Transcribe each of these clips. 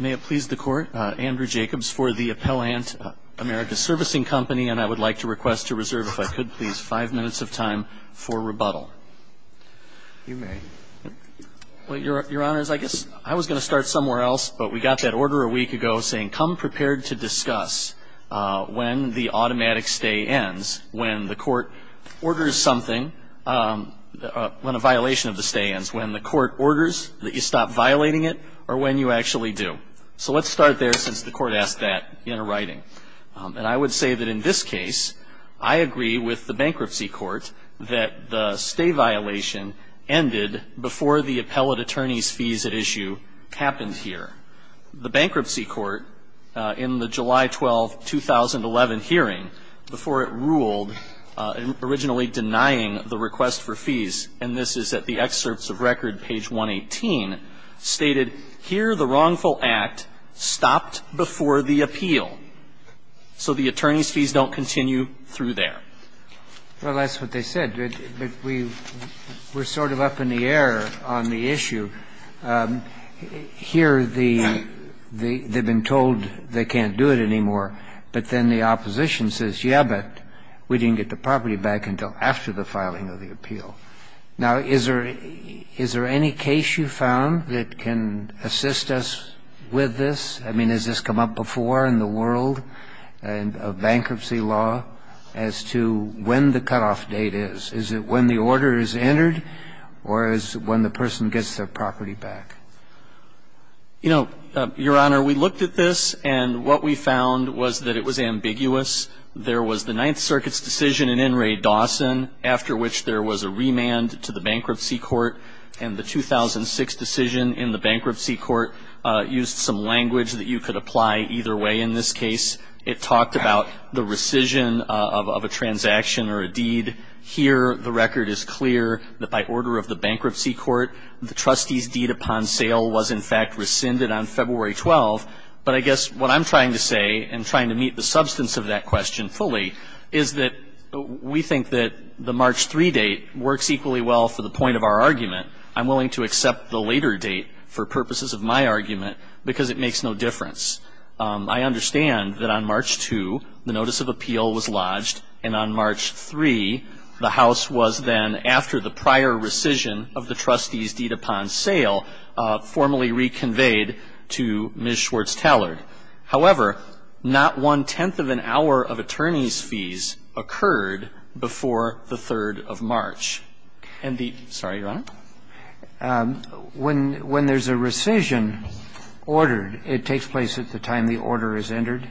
May it please the Court, Andrew Jacobs for the Appellant, America's Servicing Company, and I would like to request to reserve, if I could please, five minutes of time for rebuttal. You may. Well, Your Honors, I guess I was going to start somewhere else, but we got that order a week ago saying, come prepared to discuss when the automatic stay ends, when the Court orders something, when a violation of the stay ends, when the Court orders that you stop violating it, or when you actually do. So let's start there, since the Court asked that in a writing. And I would say that in this case, I agree with the Bankruptcy Court that the stay violation ended before the Appellate Attorney's fees at issue happened here. The Bankruptcy Court, in the July 12, 2011 hearing, before it ruled, originally denying the request for fees, and this is at the excerpts of record, page 118, stated, here the wrongful act stopped before the appeal. So the attorney's fees don't continue through there. Well, that's what they said, but we're sort of up in the air on the issue. Here the they've been told they can't do it anymore, but then the opposition says, yeah, but we didn't get the property back until after the filing of the appeal. Now, is there any case you found that can assist us with this? I mean, has this come up before in the world of bankruptcy law as to when the cutoff date is? Is it when the order is entered, or is it when the person gets their property back? You know, Your Honor, we looked at this, and what we found was that it was ambiguous. There was the Ninth Circuit's decision in In re Dawson, after which there was a remand to the Bankruptcy Court, and the 2006 decision in the Bankruptcy Court used some language that you could apply either way in this case. It talked about the rescission of a transaction or a deed. Here the record is clear that by order of the Bankruptcy Court, the trustee's deed upon sale was, in fact, rescinded on February 12. But I guess what I'm trying to say, and trying to meet the substance of that question fully, is that we think that the March 3 date works equally well for the point of our argument. I'm willing to accept the later date for purposes of my argument, because it makes no difference. I understand that on March 2, the notice of appeal was lodged, and on March 3, the House was then, after the prior rescission of the trustee's deed upon sale, formally reconveyed to Ms. Schwartz-Tallard. However, not one-tenth of an hour of attorneys' fees occurred before the 3rd of March. And the – sorry, Your Honor? When there's a rescission ordered, it takes place at the time the order is entered?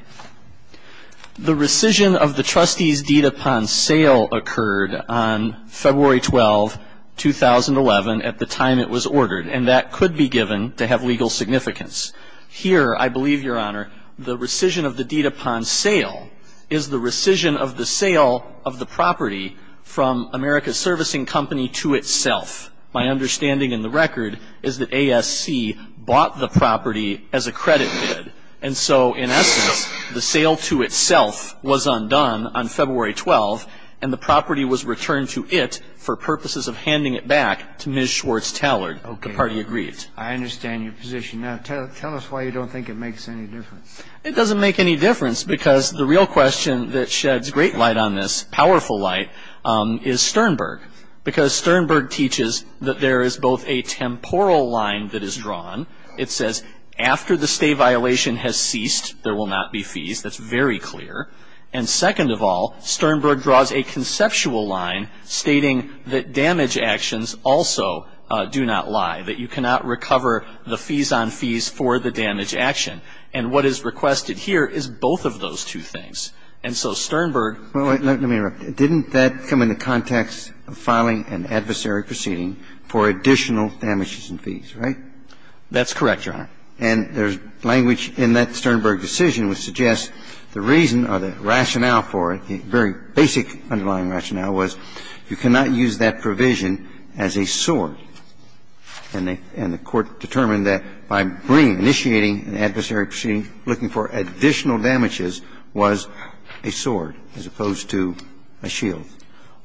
The rescission of the trustee's deed upon sale occurred on February 12, 2011, at the time it was ordered. And that could be given to have legal significance. Here, I believe, Your Honor, the rescission of the deed upon sale is the rescission of the sale of the property from America Servicing Company to itself. My understanding in the record is that ASC bought the property as a credit bid. And so, in essence, the sale to itself was undone on February 12, and the property was returned to it for purposes of handing it back to Ms. Schwartz-Tallard. Okay. The party agreed. I understand your position. Now, tell us why you don't think it makes any difference. It doesn't make any difference because the real question that sheds great light on this, powerful light, is Sternberg. Because Sternberg teaches that there is both a temporal line that is drawn. It says, after the stay violation has ceased, there will not be fees. That's very clear. And second of all, Sternberg draws a conceptual line stating that damage actions also do not lie, that you cannot recover the fees on fees for the damage action. And what is requested here is both of those two things. And so Sternberg ---- Well, wait. Let me interrupt. Didn't that come in the context of filing an adversary proceeding for additional damages and fees, right? That's correct, Your Honor. And there's language in that Sternberg decision which suggests the reason or the rationale for it, the very basic underlying rationale, was you cannot use that provision as a sword. And the Court determined that by bringing, initiating an adversary proceeding, looking for additional damages was a sword as opposed to a shield.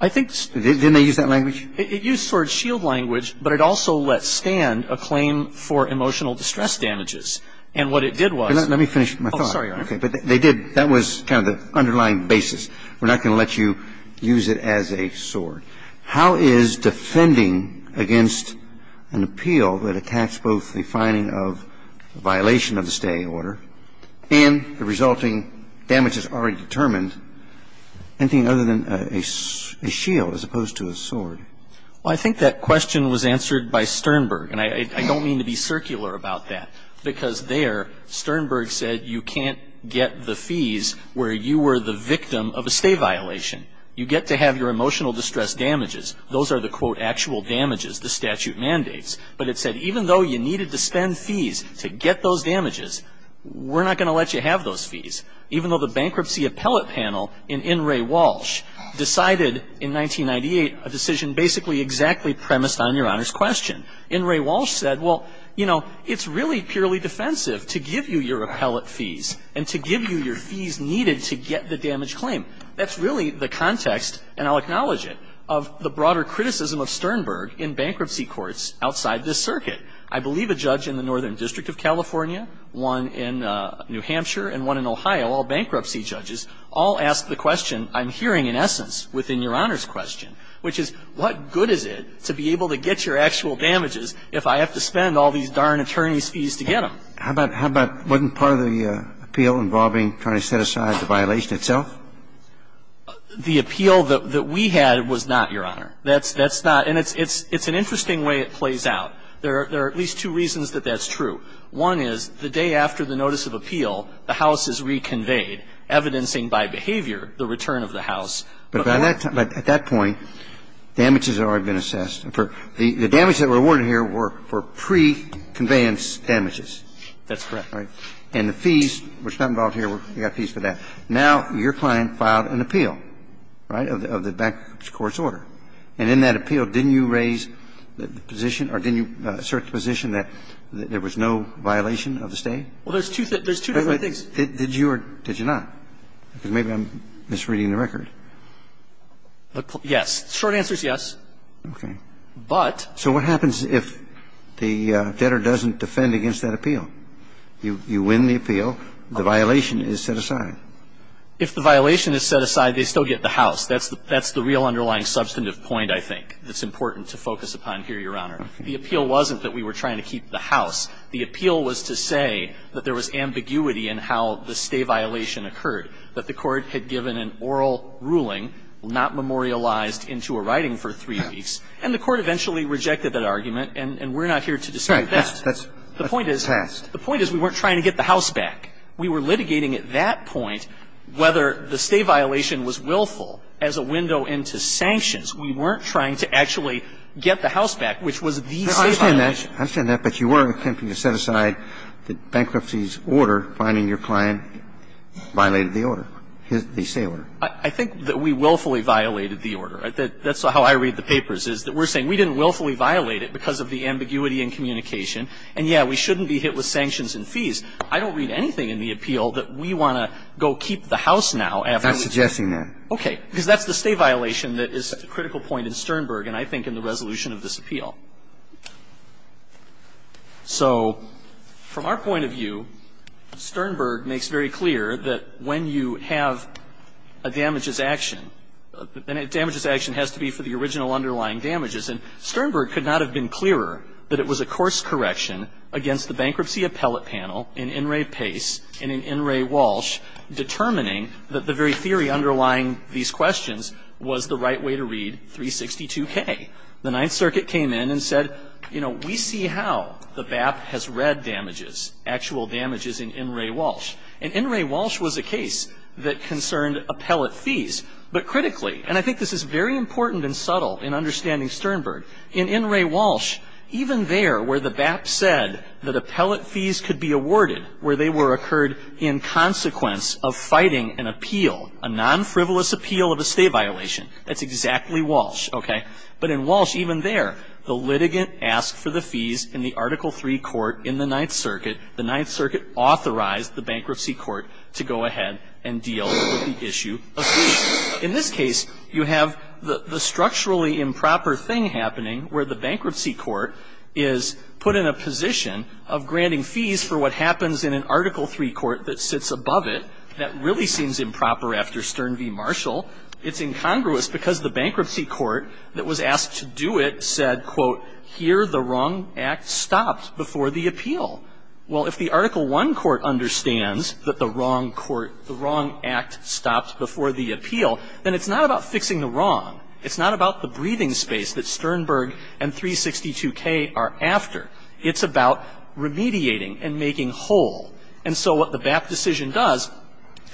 I think this ---- Didn't they use that language? It used sword-shield language, but it also let stand a claim for emotional distress damages. And what it did was ---- Let me finish my thought. Oh, sorry, Your Honor. Okay. But they did ---- that was kind of the underlying basis. We're not going to let you use it as a sword. How is defending against an appeal that attacks both the finding of violation of the stay order and the resulting damages already determined anything other than a shield as opposed to a sword? Well, I think that question was answered by Sternberg. And I don't mean to be circular about that, because there Sternberg said you can't get the fees where you were the victim of a stay violation. You get to have your emotional distress damages. Those are the, quote, actual damages, the statute mandates. But it said even though you needed to spend fees to get those damages, we're not going to let you have those fees. Even though the bankruptcy appellate panel in In re Walsh decided in 1998 a decision basically exactly premised on Your Honor's question, In re Walsh said, well, you know, it's really purely defensive to give you your appellate fees and to give you your fees needed to get the damage claim. That's really the context, and I'll acknowledge it, of the broader criticism of Sternberg in bankruptcy courts outside this circuit. I believe a judge in the Northern District of California, one in New Hampshire and one in Ohio, all bankruptcy judges, all ask the question I'm hearing in essence within Your Honor's question, which is, what good is it to be able to get your actual damages if I have to spend all these darn attorney's fees to get them? How about, wasn't part of the appeal involving trying to set aside the violation itself? The appeal that we had was not, Your Honor. That's not. And it's an interesting way it plays out. There are at least two reasons that that's true. One is the day after the notice of appeal, the house is reconveyed, evidencing by behavior the return of the house. But by that time, at that point, damages had already been assessed. The damage that were awarded here were for pre-conveyance damages. That's correct. And the fees, which are not involved here, you got fees for that. Now, your client filed an appeal, right, of the bankruptcy court's order. And in that appeal, didn't you raise the position or didn't you assert the position that there was no violation of the stay? Well, there's two different things. Did you or did you not? Because maybe I'm misreading the record. Yes. The short answer is yes. Okay. But. So what happens if the debtor doesn't defend against that appeal? You win the appeal. The violation is set aside. If the violation is set aside, they still get the house. That's the real underlying substantive point, I think, that's important to focus upon here, Your Honor. Okay. The appeal wasn't that we were trying to keep the house. The appeal was to say that there was ambiguity in how the stay violation occurred, that the Court had given an oral ruling, not memorialized into a writing for three weeks, and the Court eventually rejected that argument. And we're not here to dispute that. Right. That's passed. The point is we weren't trying to get the house back. We were litigating at that point whether the stay violation was willful as a window into sanctions. We weren't trying to actually get the house back, which was the stay violation. I understand that. I understand that. But you were attempting to set aside the bankruptcy's order, finding your client violated the order, the stay order. I think that we willfully violated the order. That's how I read the papers, is that we're saying we didn't willfully violate it because of the ambiguity in communication. And, yeah, we shouldn't be hit with sanctions and fees. I don't read anything in the appeal that we want to go keep the house now after we've done it. I'm not suggesting that. Okay. Because that's the stay violation that is a critical point in Sternberg and, I think, in the resolution of this appeal. So from our point of view, Sternberg makes very clear that when you have a damages action, the damages action has to be for the original underlying damages. And Sternberg could not have been clearer that it was a course correction against the bankruptcy appellate panel in In re Pace and in In re Walsh determining that the very theory underlying these questions was the right way to read 362K. The Ninth Circuit came in and said, you know, we see how the BAP has read damages, actual damages in In re Walsh. And In re Walsh was a case that concerned appellate fees. But critically, and I think this is very important and subtle in understanding Sternberg, in In re Walsh, even there where the BAP said that appellate fees could be awarded where they were occurred in consequence of fighting an appeal, a non-frivolous appeal of a stay violation. That's exactly Walsh. Okay. But in Walsh, even there, the litigant asked for the fees in the Article III court in the Ninth Circuit. The Ninth Circuit authorized the bankruptcy court to go ahead and deal with the issue of fees. In this case, you have the structurally improper thing happening where the bankruptcy court is put in a position of granting fees for what happens in an Article III court that sits above it. That really seems improper after Stern v. Marshall. It's incongruous because the bankruptcy court that was asked to do it said, quote, here the wrong act stopped before the appeal. Well, if the Article I court understands that the wrong court, the wrong act stopped before the appeal, then it's not about fixing the wrong. It's not about the breathing space that Sternberg and 362K are after. It's about remediating and making whole. And so what the BAP decision does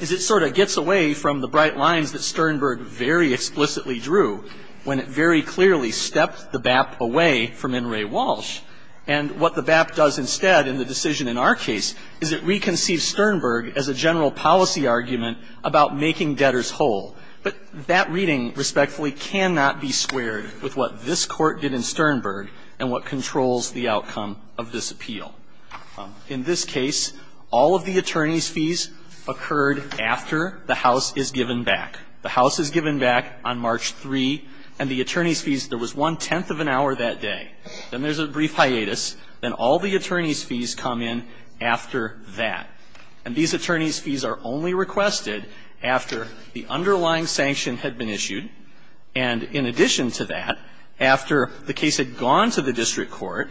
is it sort of gets away from the bright lines that Sternberg very explicitly drew when it very clearly stepped the BAP away from In re Walsh. And what the BAP does instead in the decision in our case is it reconceives Sternberg as a general policy argument about making debtors whole. But that reading, respectfully, cannot be squared with what this Court did in Sternberg and what controls the outcome of this appeal. In this case, all of the attorney's fees occurred after the House is given back. The House is given back on March 3, and the attorney's fees, there was one-tenth of an hour that day. Then there's a brief hiatus. Then all the attorney's fees come in after that. And these attorney's fees are only requested after the underlying sanction had been issued, and in addition to that, after the case had gone to the district court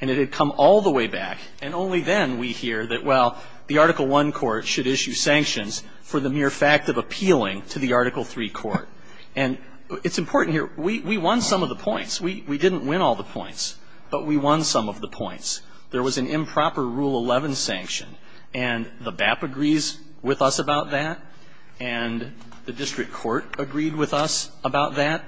and it had come all the way back, and only then we hear that, well, the Article I court should issue sanctions for the mere fact of appealing to the Article III court. And it's important here. We won some of the points. We didn't win all the points, but we won some of the points. There was an improper Rule 11 sanction, and the BAP agrees with us about that, and the district court agreed with us about that.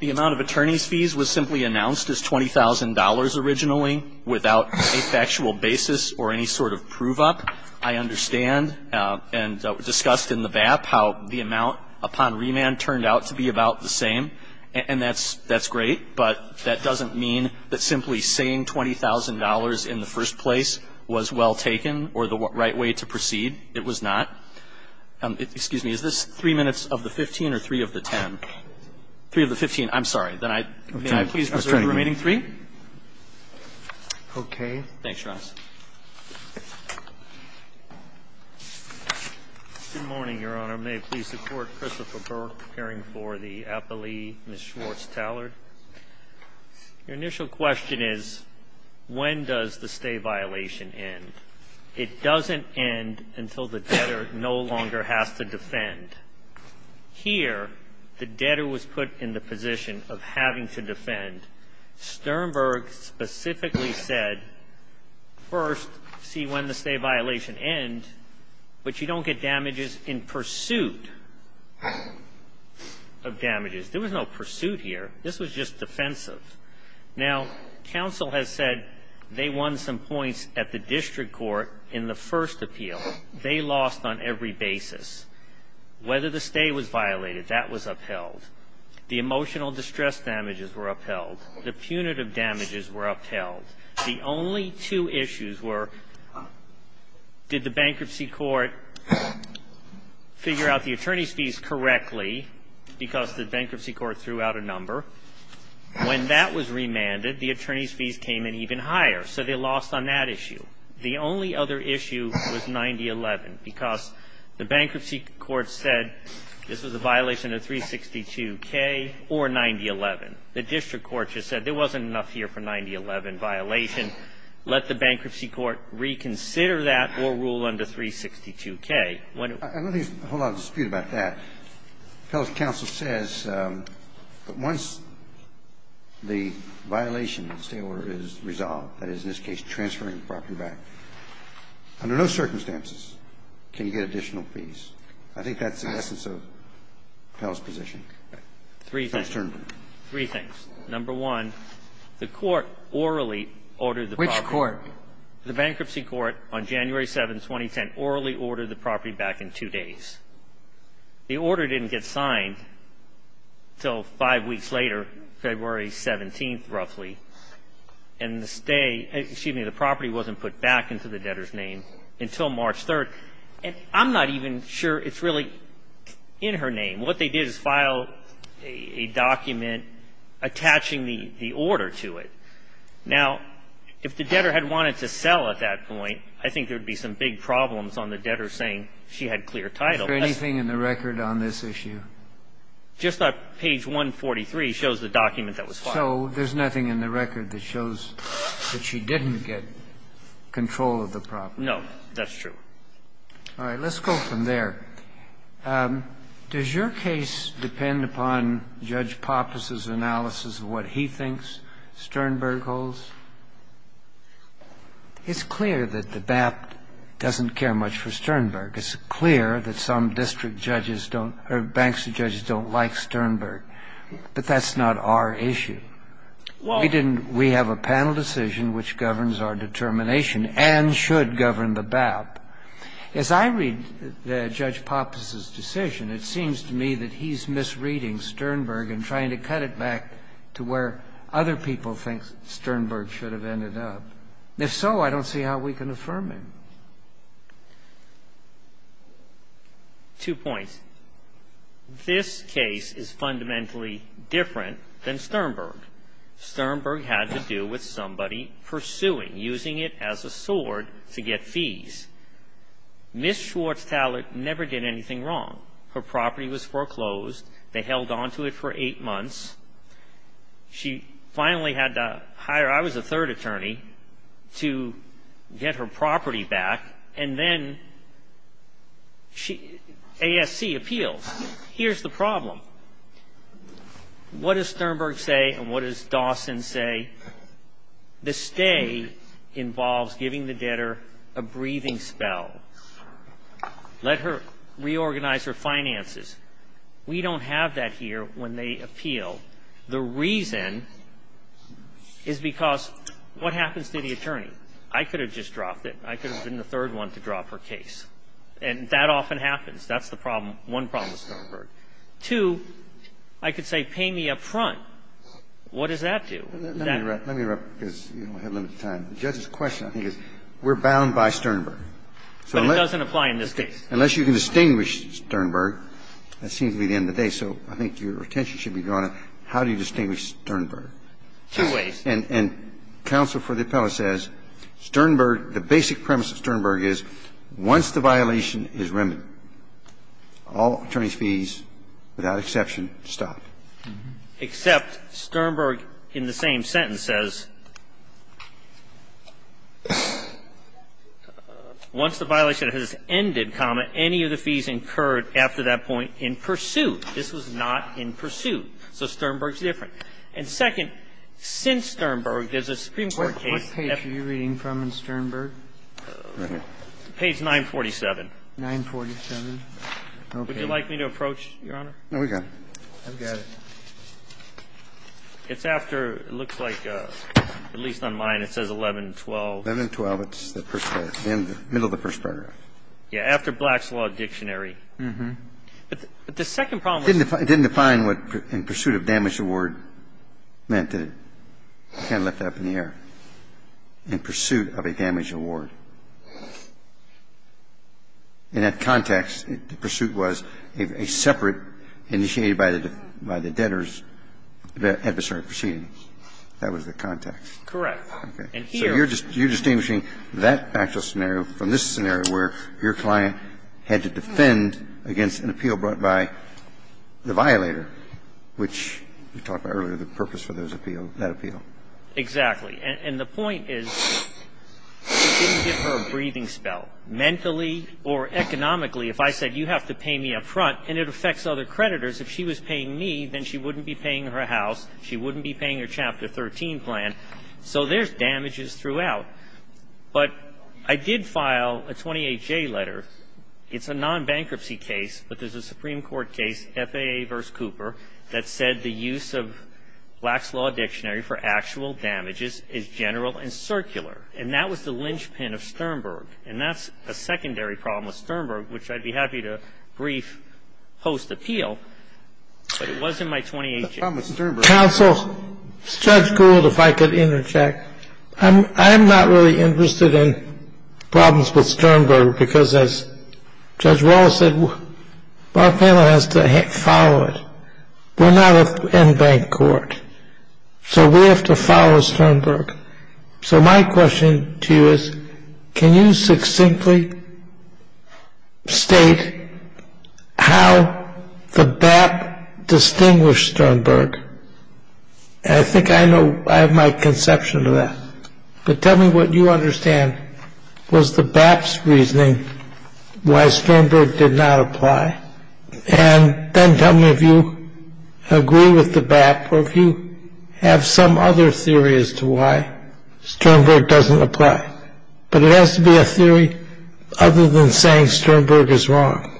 The amount of attorney's fees was simply announced as $20,000 originally, without a factual basis or any sort of prove-up. I understand and discussed in the BAP how the amount upon remand turned out to be about the same, and that's great. But that doesn't mean that simply saying $20,000 in the first place was well taken or the right way to proceed. It was not. Excuse me. Is this three minutes of the 15 or three of the 10? Three of the 15. I'm sorry. May I please reserve the remaining three? Okay. Thanks, Your Honor. Good morning, Your Honor. May I please support Christopher Burke appearing for the appellee, Ms. Schwartz-Tallard? Your initial question is, when does the stay violation end? It doesn't end until the debtor no longer has to defend. Here, the debtor was put in the position of having to defend. Sternberg specifically said, first, see when the stay violation ends, but you don't get damages in pursuit of damages. There was no pursuit here. This was just defensive. Now, counsel has said they won some points at the district court in the first appeal. They lost on every basis. Whether the stay was violated, that was upheld. The emotional distress damages were upheld. The punitive damages were upheld. The only two issues were, did the bankruptcy court figure out the attorney's fees correctly because the bankruptcy court threw out a number? When that was remanded, the attorney's fees came in even higher. So they lost on that issue. The only other issue was 9011 because the bankruptcy court said this was a violation of 362K or 9011. The district court just said there wasn't enough here for 9011 violation. Let the bankruptcy court reconsider that or rule under 362K. I don't think there's a whole lot of dispute about that. Pell's counsel says that once the violation of the stay order is resolved, that is, in this case, transferring the property back, under no circumstances can you get additional fees. I think that's the essence of Pell's position. Three things. First term. Three things. Number one, the court orally ordered the property. Which court? The bankruptcy court on January 7th, 2010, orally ordered the property back in two days. The order didn't get signed until five weeks later, February 17th, roughly. And the stay, excuse me, the property wasn't put back into the debtor's name until March 3rd. And I'm not even sure it's really in her name. What they did is file a document attaching the order to it. Now, if the debtor had wanted to sell at that point, I think there would be some big problems on the debtor saying she had clear title. Is there anything in the record on this issue? Just on page 143 shows the document that was filed. So there's nothing in the record that shows that she didn't get control of the property. No, that's true. All right. Let's go from there. Does your case depend upon Judge Pappas's analysis of what he thinks Sternberg holds? It's clear that the BAP doesn't care much for Sternberg. It's clear that some district judges don't or bankruptcy judges don't like Sternberg. But that's not our issue. We didn't – we have a panel decision which governs our determination and should govern the BAP. As I read Judge Pappas's decision, it seems to me that he's misreading Sternberg and trying to cut it back to where other people think Sternberg should have ended up. If so, I don't see how we can affirm him. Two points. This case is fundamentally different than Sternberg. Sternberg had to do with somebody pursuing, using it as a sword to get fees. Ms. Schwartz-Tallet never did anything wrong. Her property was foreclosed. They held onto it for eight months. She finally had to hire – I was the third attorney – to get her property back, and then ASC appeals. Here's the problem. What does Sternberg say and what does Dawson say? The stay involves giving the debtor a breathing spell. Let her reorganize her finances. We don't have that here when they appeal. The reason is because what happens to the attorney? I could have just dropped it. I could have been the third one to drop her case. And that often happens. That's the problem. One problem with Sternberg. Two, I could say pay me up front. What does that do? Let me interrupt because we have limited time. The judge's question, I think, is we're bound by Sternberg. But it doesn't apply in this case. Unless you can distinguish Sternberg, that seems to be the end of the day. So I think your attention should be drawn to how do you distinguish Sternberg? Two ways. And counsel for the appellate says Sternberg, the basic premise of Sternberg is once the violation is remedied, all attorney's fees, without exception, stop. Except Sternberg in the same sentence says once the violation has ended, comma, any of the fees incurred after that point in pursuit. This was not in pursuit. So Sternberg's different. And second, since Sternberg, there's a Supreme Court case. What page are you reading from in Sternberg? Page 947. 947. Would you like me to approach, Your Honor? No, we're good. I've got it. It's after, it looks like, at least on mine, it says 1112. 1112. It's the first paragraph. The middle of the first paragraph. Yeah. After Black's Law Dictionary. Uh-huh. But the second problem was the same. It didn't define what in pursuit of damage award meant. It kind of left that up in the air. In pursuit of a damage award. In that context, the pursuit was a separate, initiated by the debtors, adversarial proceeding. That was the context. Correct. Okay. So you're distinguishing that actual scenario from this scenario where your client had to defend against an appeal brought by the violator, which we talked about earlier, the purpose for those appeals, that appeal. Exactly. And the point is, it didn't give her a breathing spell. Mentally or economically, if I said, you have to pay me up front, and it affects other creditors. If she was paying me, then she wouldn't be paying her house. She wouldn't be paying her Chapter 13 plan. So there's damages throughout. But I did file a 28-J letter. It's a non-bankruptcy case, but there's a Supreme Court case, FAA v. Cooper, that said the use of Black's Law Dictionary for actual damages is general and circular. And that was the linchpin of Sternberg. And that's a secondary problem with Sternberg, which I'd be happy to brief post-appeal, but it wasn't my 28-J. Counsel, Judge Gould, if I could interject. I'm not really interested in problems with Sternberg because, as Judge Wallace said, our panel has to follow it. We're not an end-bank court, so we have to follow Sternberg. So my question to you is, can you succinctly state how the BAP distinguished Sternberg? And I think I have my conception of that. But tell me what you understand was the BAP's reasoning why Sternberg did not apply. And then tell me if you agree with the BAP or if you have some other theory as to why Sternberg doesn't apply. But it has to be a theory other than saying Sternberg is wrong.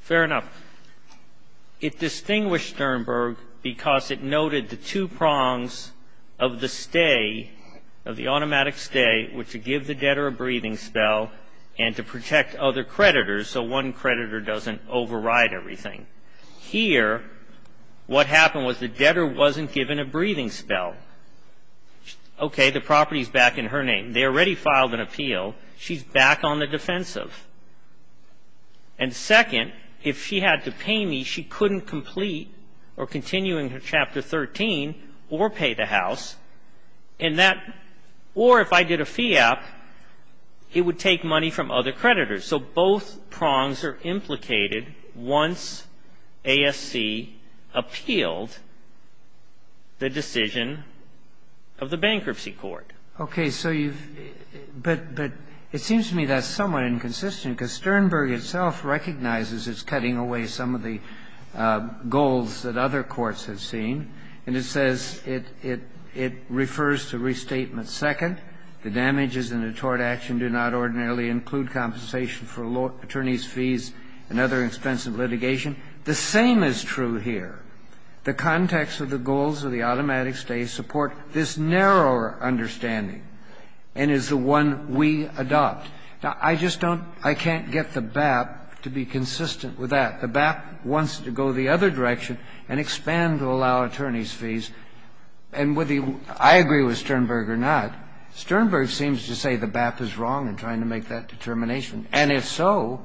Fair enough. It distinguished Sternberg because it noted the two prongs of the stay, of the automatic stay, which would give the debtor a breathing spell and to protect other creditors, so one creditor doesn't override everything. Here, what happened was the debtor wasn't given a breathing spell. Okay, the property is back in her name. They already filed an appeal. She's back on the defensive. And second, if she had to pay me, she couldn't complete or continue in Chapter 13 or pay the house. And that or if I did a FIAP, it would take money from other creditors. So both prongs are implicated once ASC appealed the decision of the bankruptcy court. Okay. So you've – but it seems to me that's somewhat inconsistent because Sternberg itself recognizes it's cutting away some of the goals that other courts have seen. And it says it refers to restatement second. The damages in a tort action do not ordinarily include compensation for attorneys' fees and other expensive litigation. The same is true here. The context of the goals of the automatic stay support this narrower understanding and is the one we adopt. Now, I just don't – I can't get the BAP to be consistent with that. The BAP wants to go the other direction and expand to allow attorneys' fees. And whether I agree with Sternberg or not, Sternberg seems to say the BAP is wrong in trying to make that determination. And if so,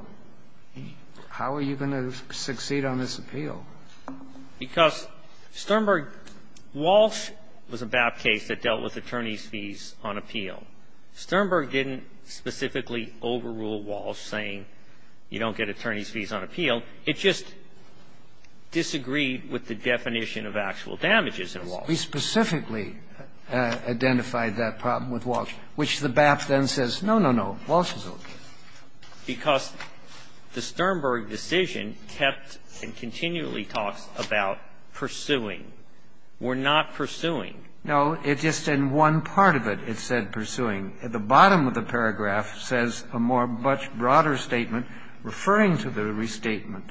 how are you going to succeed on this appeal? Because Sternberg – Walsh was a BAP case that dealt with attorneys' fees on appeal. Sternberg didn't specifically overrule Walsh, saying you don't get attorneys' fees on appeal. It just disagreed with the definition of actual damages in Walsh. We specifically identified that problem with Walsh, which the BAP then says, no, no, no, Walsh is okay. Now, I don't agree with Sternberg, because the Sternberg decision kept and continually talks about pursuing. We're not pursuing. No, it just – in one part of it, it said pursuing. At the bottom of the paragraph says a more – a much broader statement referring to the restatement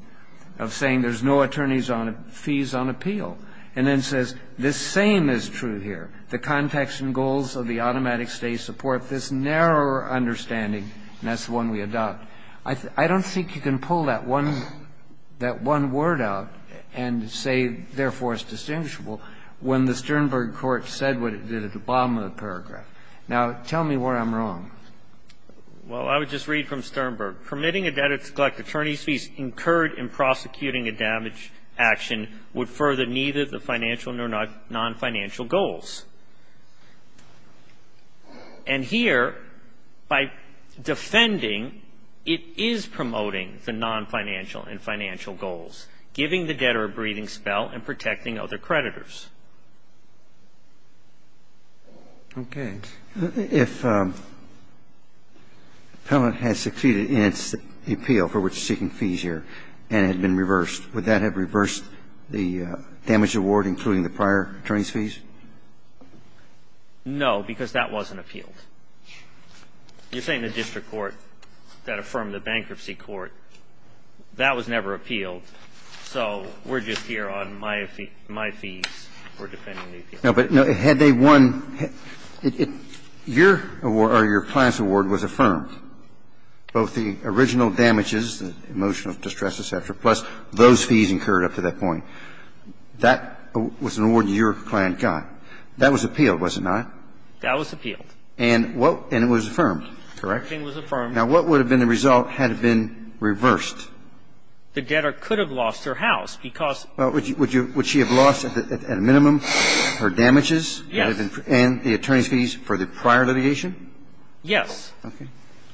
of saying there's no attorneys' fees on appeal, and then says this same is true here. The context and goals of the automatic stay support this narrower understanding. And that's the one we adopt. I don't think you can pull that one – that one word out and say, therefore, it's distinguishable, when the Sternberg court said what it did at the bottom of the paragraph. Now, tell me where I'm wrong. Well, I would just read from Sternberg. Permitting a debtor to collect attorney's fees incurred in prosecuting a damage action would further neither the financial nor non-financial goals. And here, by defending, it is promoting the non-financial and financial goals, giving the debtor a breathing spell and protecting other creditors. Okay. If an appellant has succeeded in its appeal for which it's seeking fees here and had been reversed, would that have reversed the damage award, including the prior attorney's fees? No, because that wasn't appealed. You're saying the district court that affirmed the bankruptcy court, that was never appealed, so we're just here on my fees for defending the appeal. No, but had they won – your award or your plan's award was affirmed. Both the original damages, the emotional distress, et cetera, plus those fees incurred up to that point. That was an award that your client got. That was appealed, was it not? That was appealed. And what – and it was affirmed, correct? Everything was affirmed. Now, what would have been the result had it been reversed? The debtor could have lost her house because – Well, would she have lost at a minimum her damages? Yes. And the attorney's fees for the prior litigation? Yes. Okay.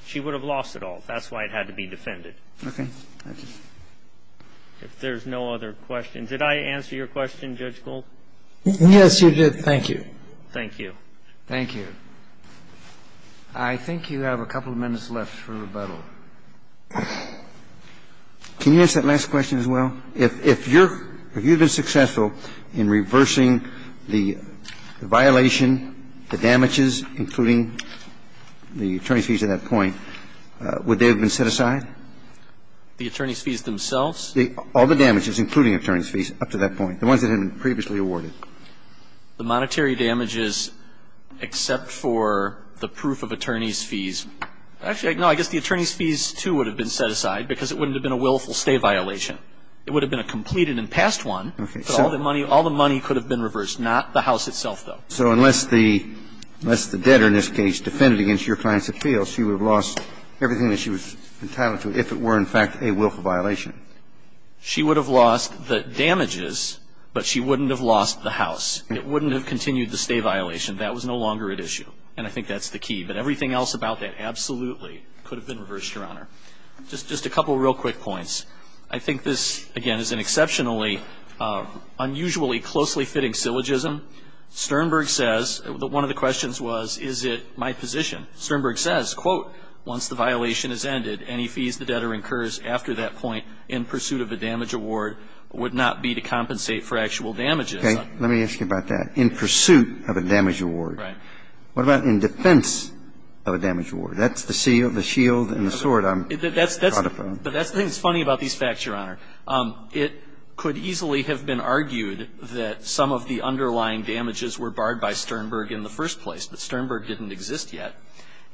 She would have lost it all. That's why it had to be defended. Okay. Thank you. If there's no other questions. Did I answer your question, Judge Gold? Yes, you did. Thank you. Thank you. Thank you. I think you have a couple of minutes left for rebuttal. Can you answer that last question as well? If you're – if you've been successful in reversing the violation, the damages, including the attorney's fees at that point, would they have been set aside? The attorney's fees themselves? All the damages, including attorney's fees up to that point. The ones that had been previously awarded. The monetary damages except for the proof of attorney's fees. Actually, no. I guess the attorney's fees, too, would have been set aside because it wouldn't have been a willful stay violation. It would have been a completed and passed one. Okay. But all the money – all the money could have been reversed, not the house itself, So unless the debtor, in this case, defended against your client's appeals, she would have lost everything that she was entitled to if it were, in fact, a willful violation. She would have lost the damages, but she wouldn't have lost the house. It wouldn't have continued the stay violation. That was no longer at issue. And I think that's the key. But everything else about that absolutely could have been reversed, Your Honor. Just a couple of real quick points. I think this, again, is an exceptionally unusually closely fitting syllogism. Sternberg says that one of the questions was, is it my position? Sternberg says, quote, once the violation has ended, any fees the debtor incurs after that point in pursuit of a damage award would not be to compensate for actual damages. Okay. Let me ask you about that. In pursuit of a damage award. Right. What about in defense of a damage award? That's the shield and the sword I'm talking about. That's the thing that's funny about these facts, Your Honor. It could easily have been argued that some of the underlying damages were barred by Sternberg in the first place. But Sternberg didn't exist yet.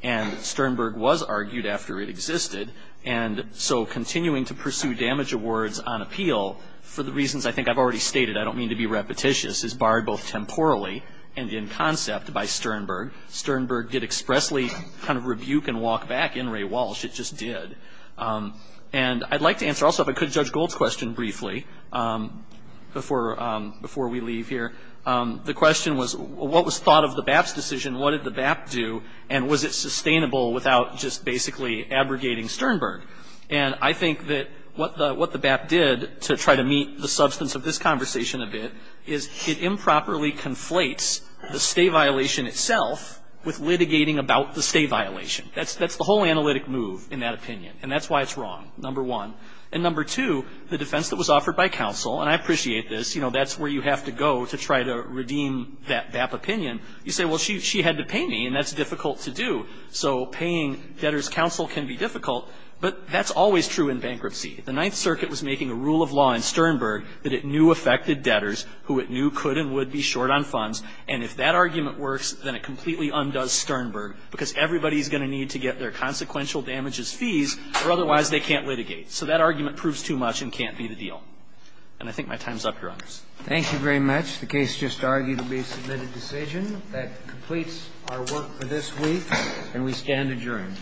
And Sternberg was argued after it existed. And so continuing to pursue damage awards on appeal, for the reasons I think I've already stated, I don't mean to be repetitious, is barred both temporally and in concept by Sternberg. Sternberg did expressly kind of rebuke and walk back in Ray Walsh. It just did. And I'd like to answer also if I could Judge Gold's question briefly before we leave here. The question was, what was thought of the BAP's decision? What did the BAP do? And was it sustainable without just basically abrogating Sternberg? And I think that what the BAP did to try to meet the substance of this conversation a bit is it improperly conflates the stay violation itself with litigating about the stay violation. That's the whole analytic move in that opinion. And that's why it's wrong, number one. And number two, the defense that was offered by counsel, and I appreciate this, you know, that's where you have to go to try to redeem that BAP opinion. You say, well, she had to pay me, and that's difficult to do. So paying debtors' counsel can be difficult. But that's always true in bankruptcy. The Ninth Circuit was making a rule of law in Sternberg that it knew affected debtors who it knew could and would be short on funds. And if that argument works, then it completely undoes Sternberg because everybody is going to need to get their consequential damages fees, or otherwise they can't litigate. So that argument proves too much and can't be the deal. And I think my time is up, Your Honors. Thank you very much. The case just argued to be a submitted decision. That completes our work for this week, and we stand adjourned.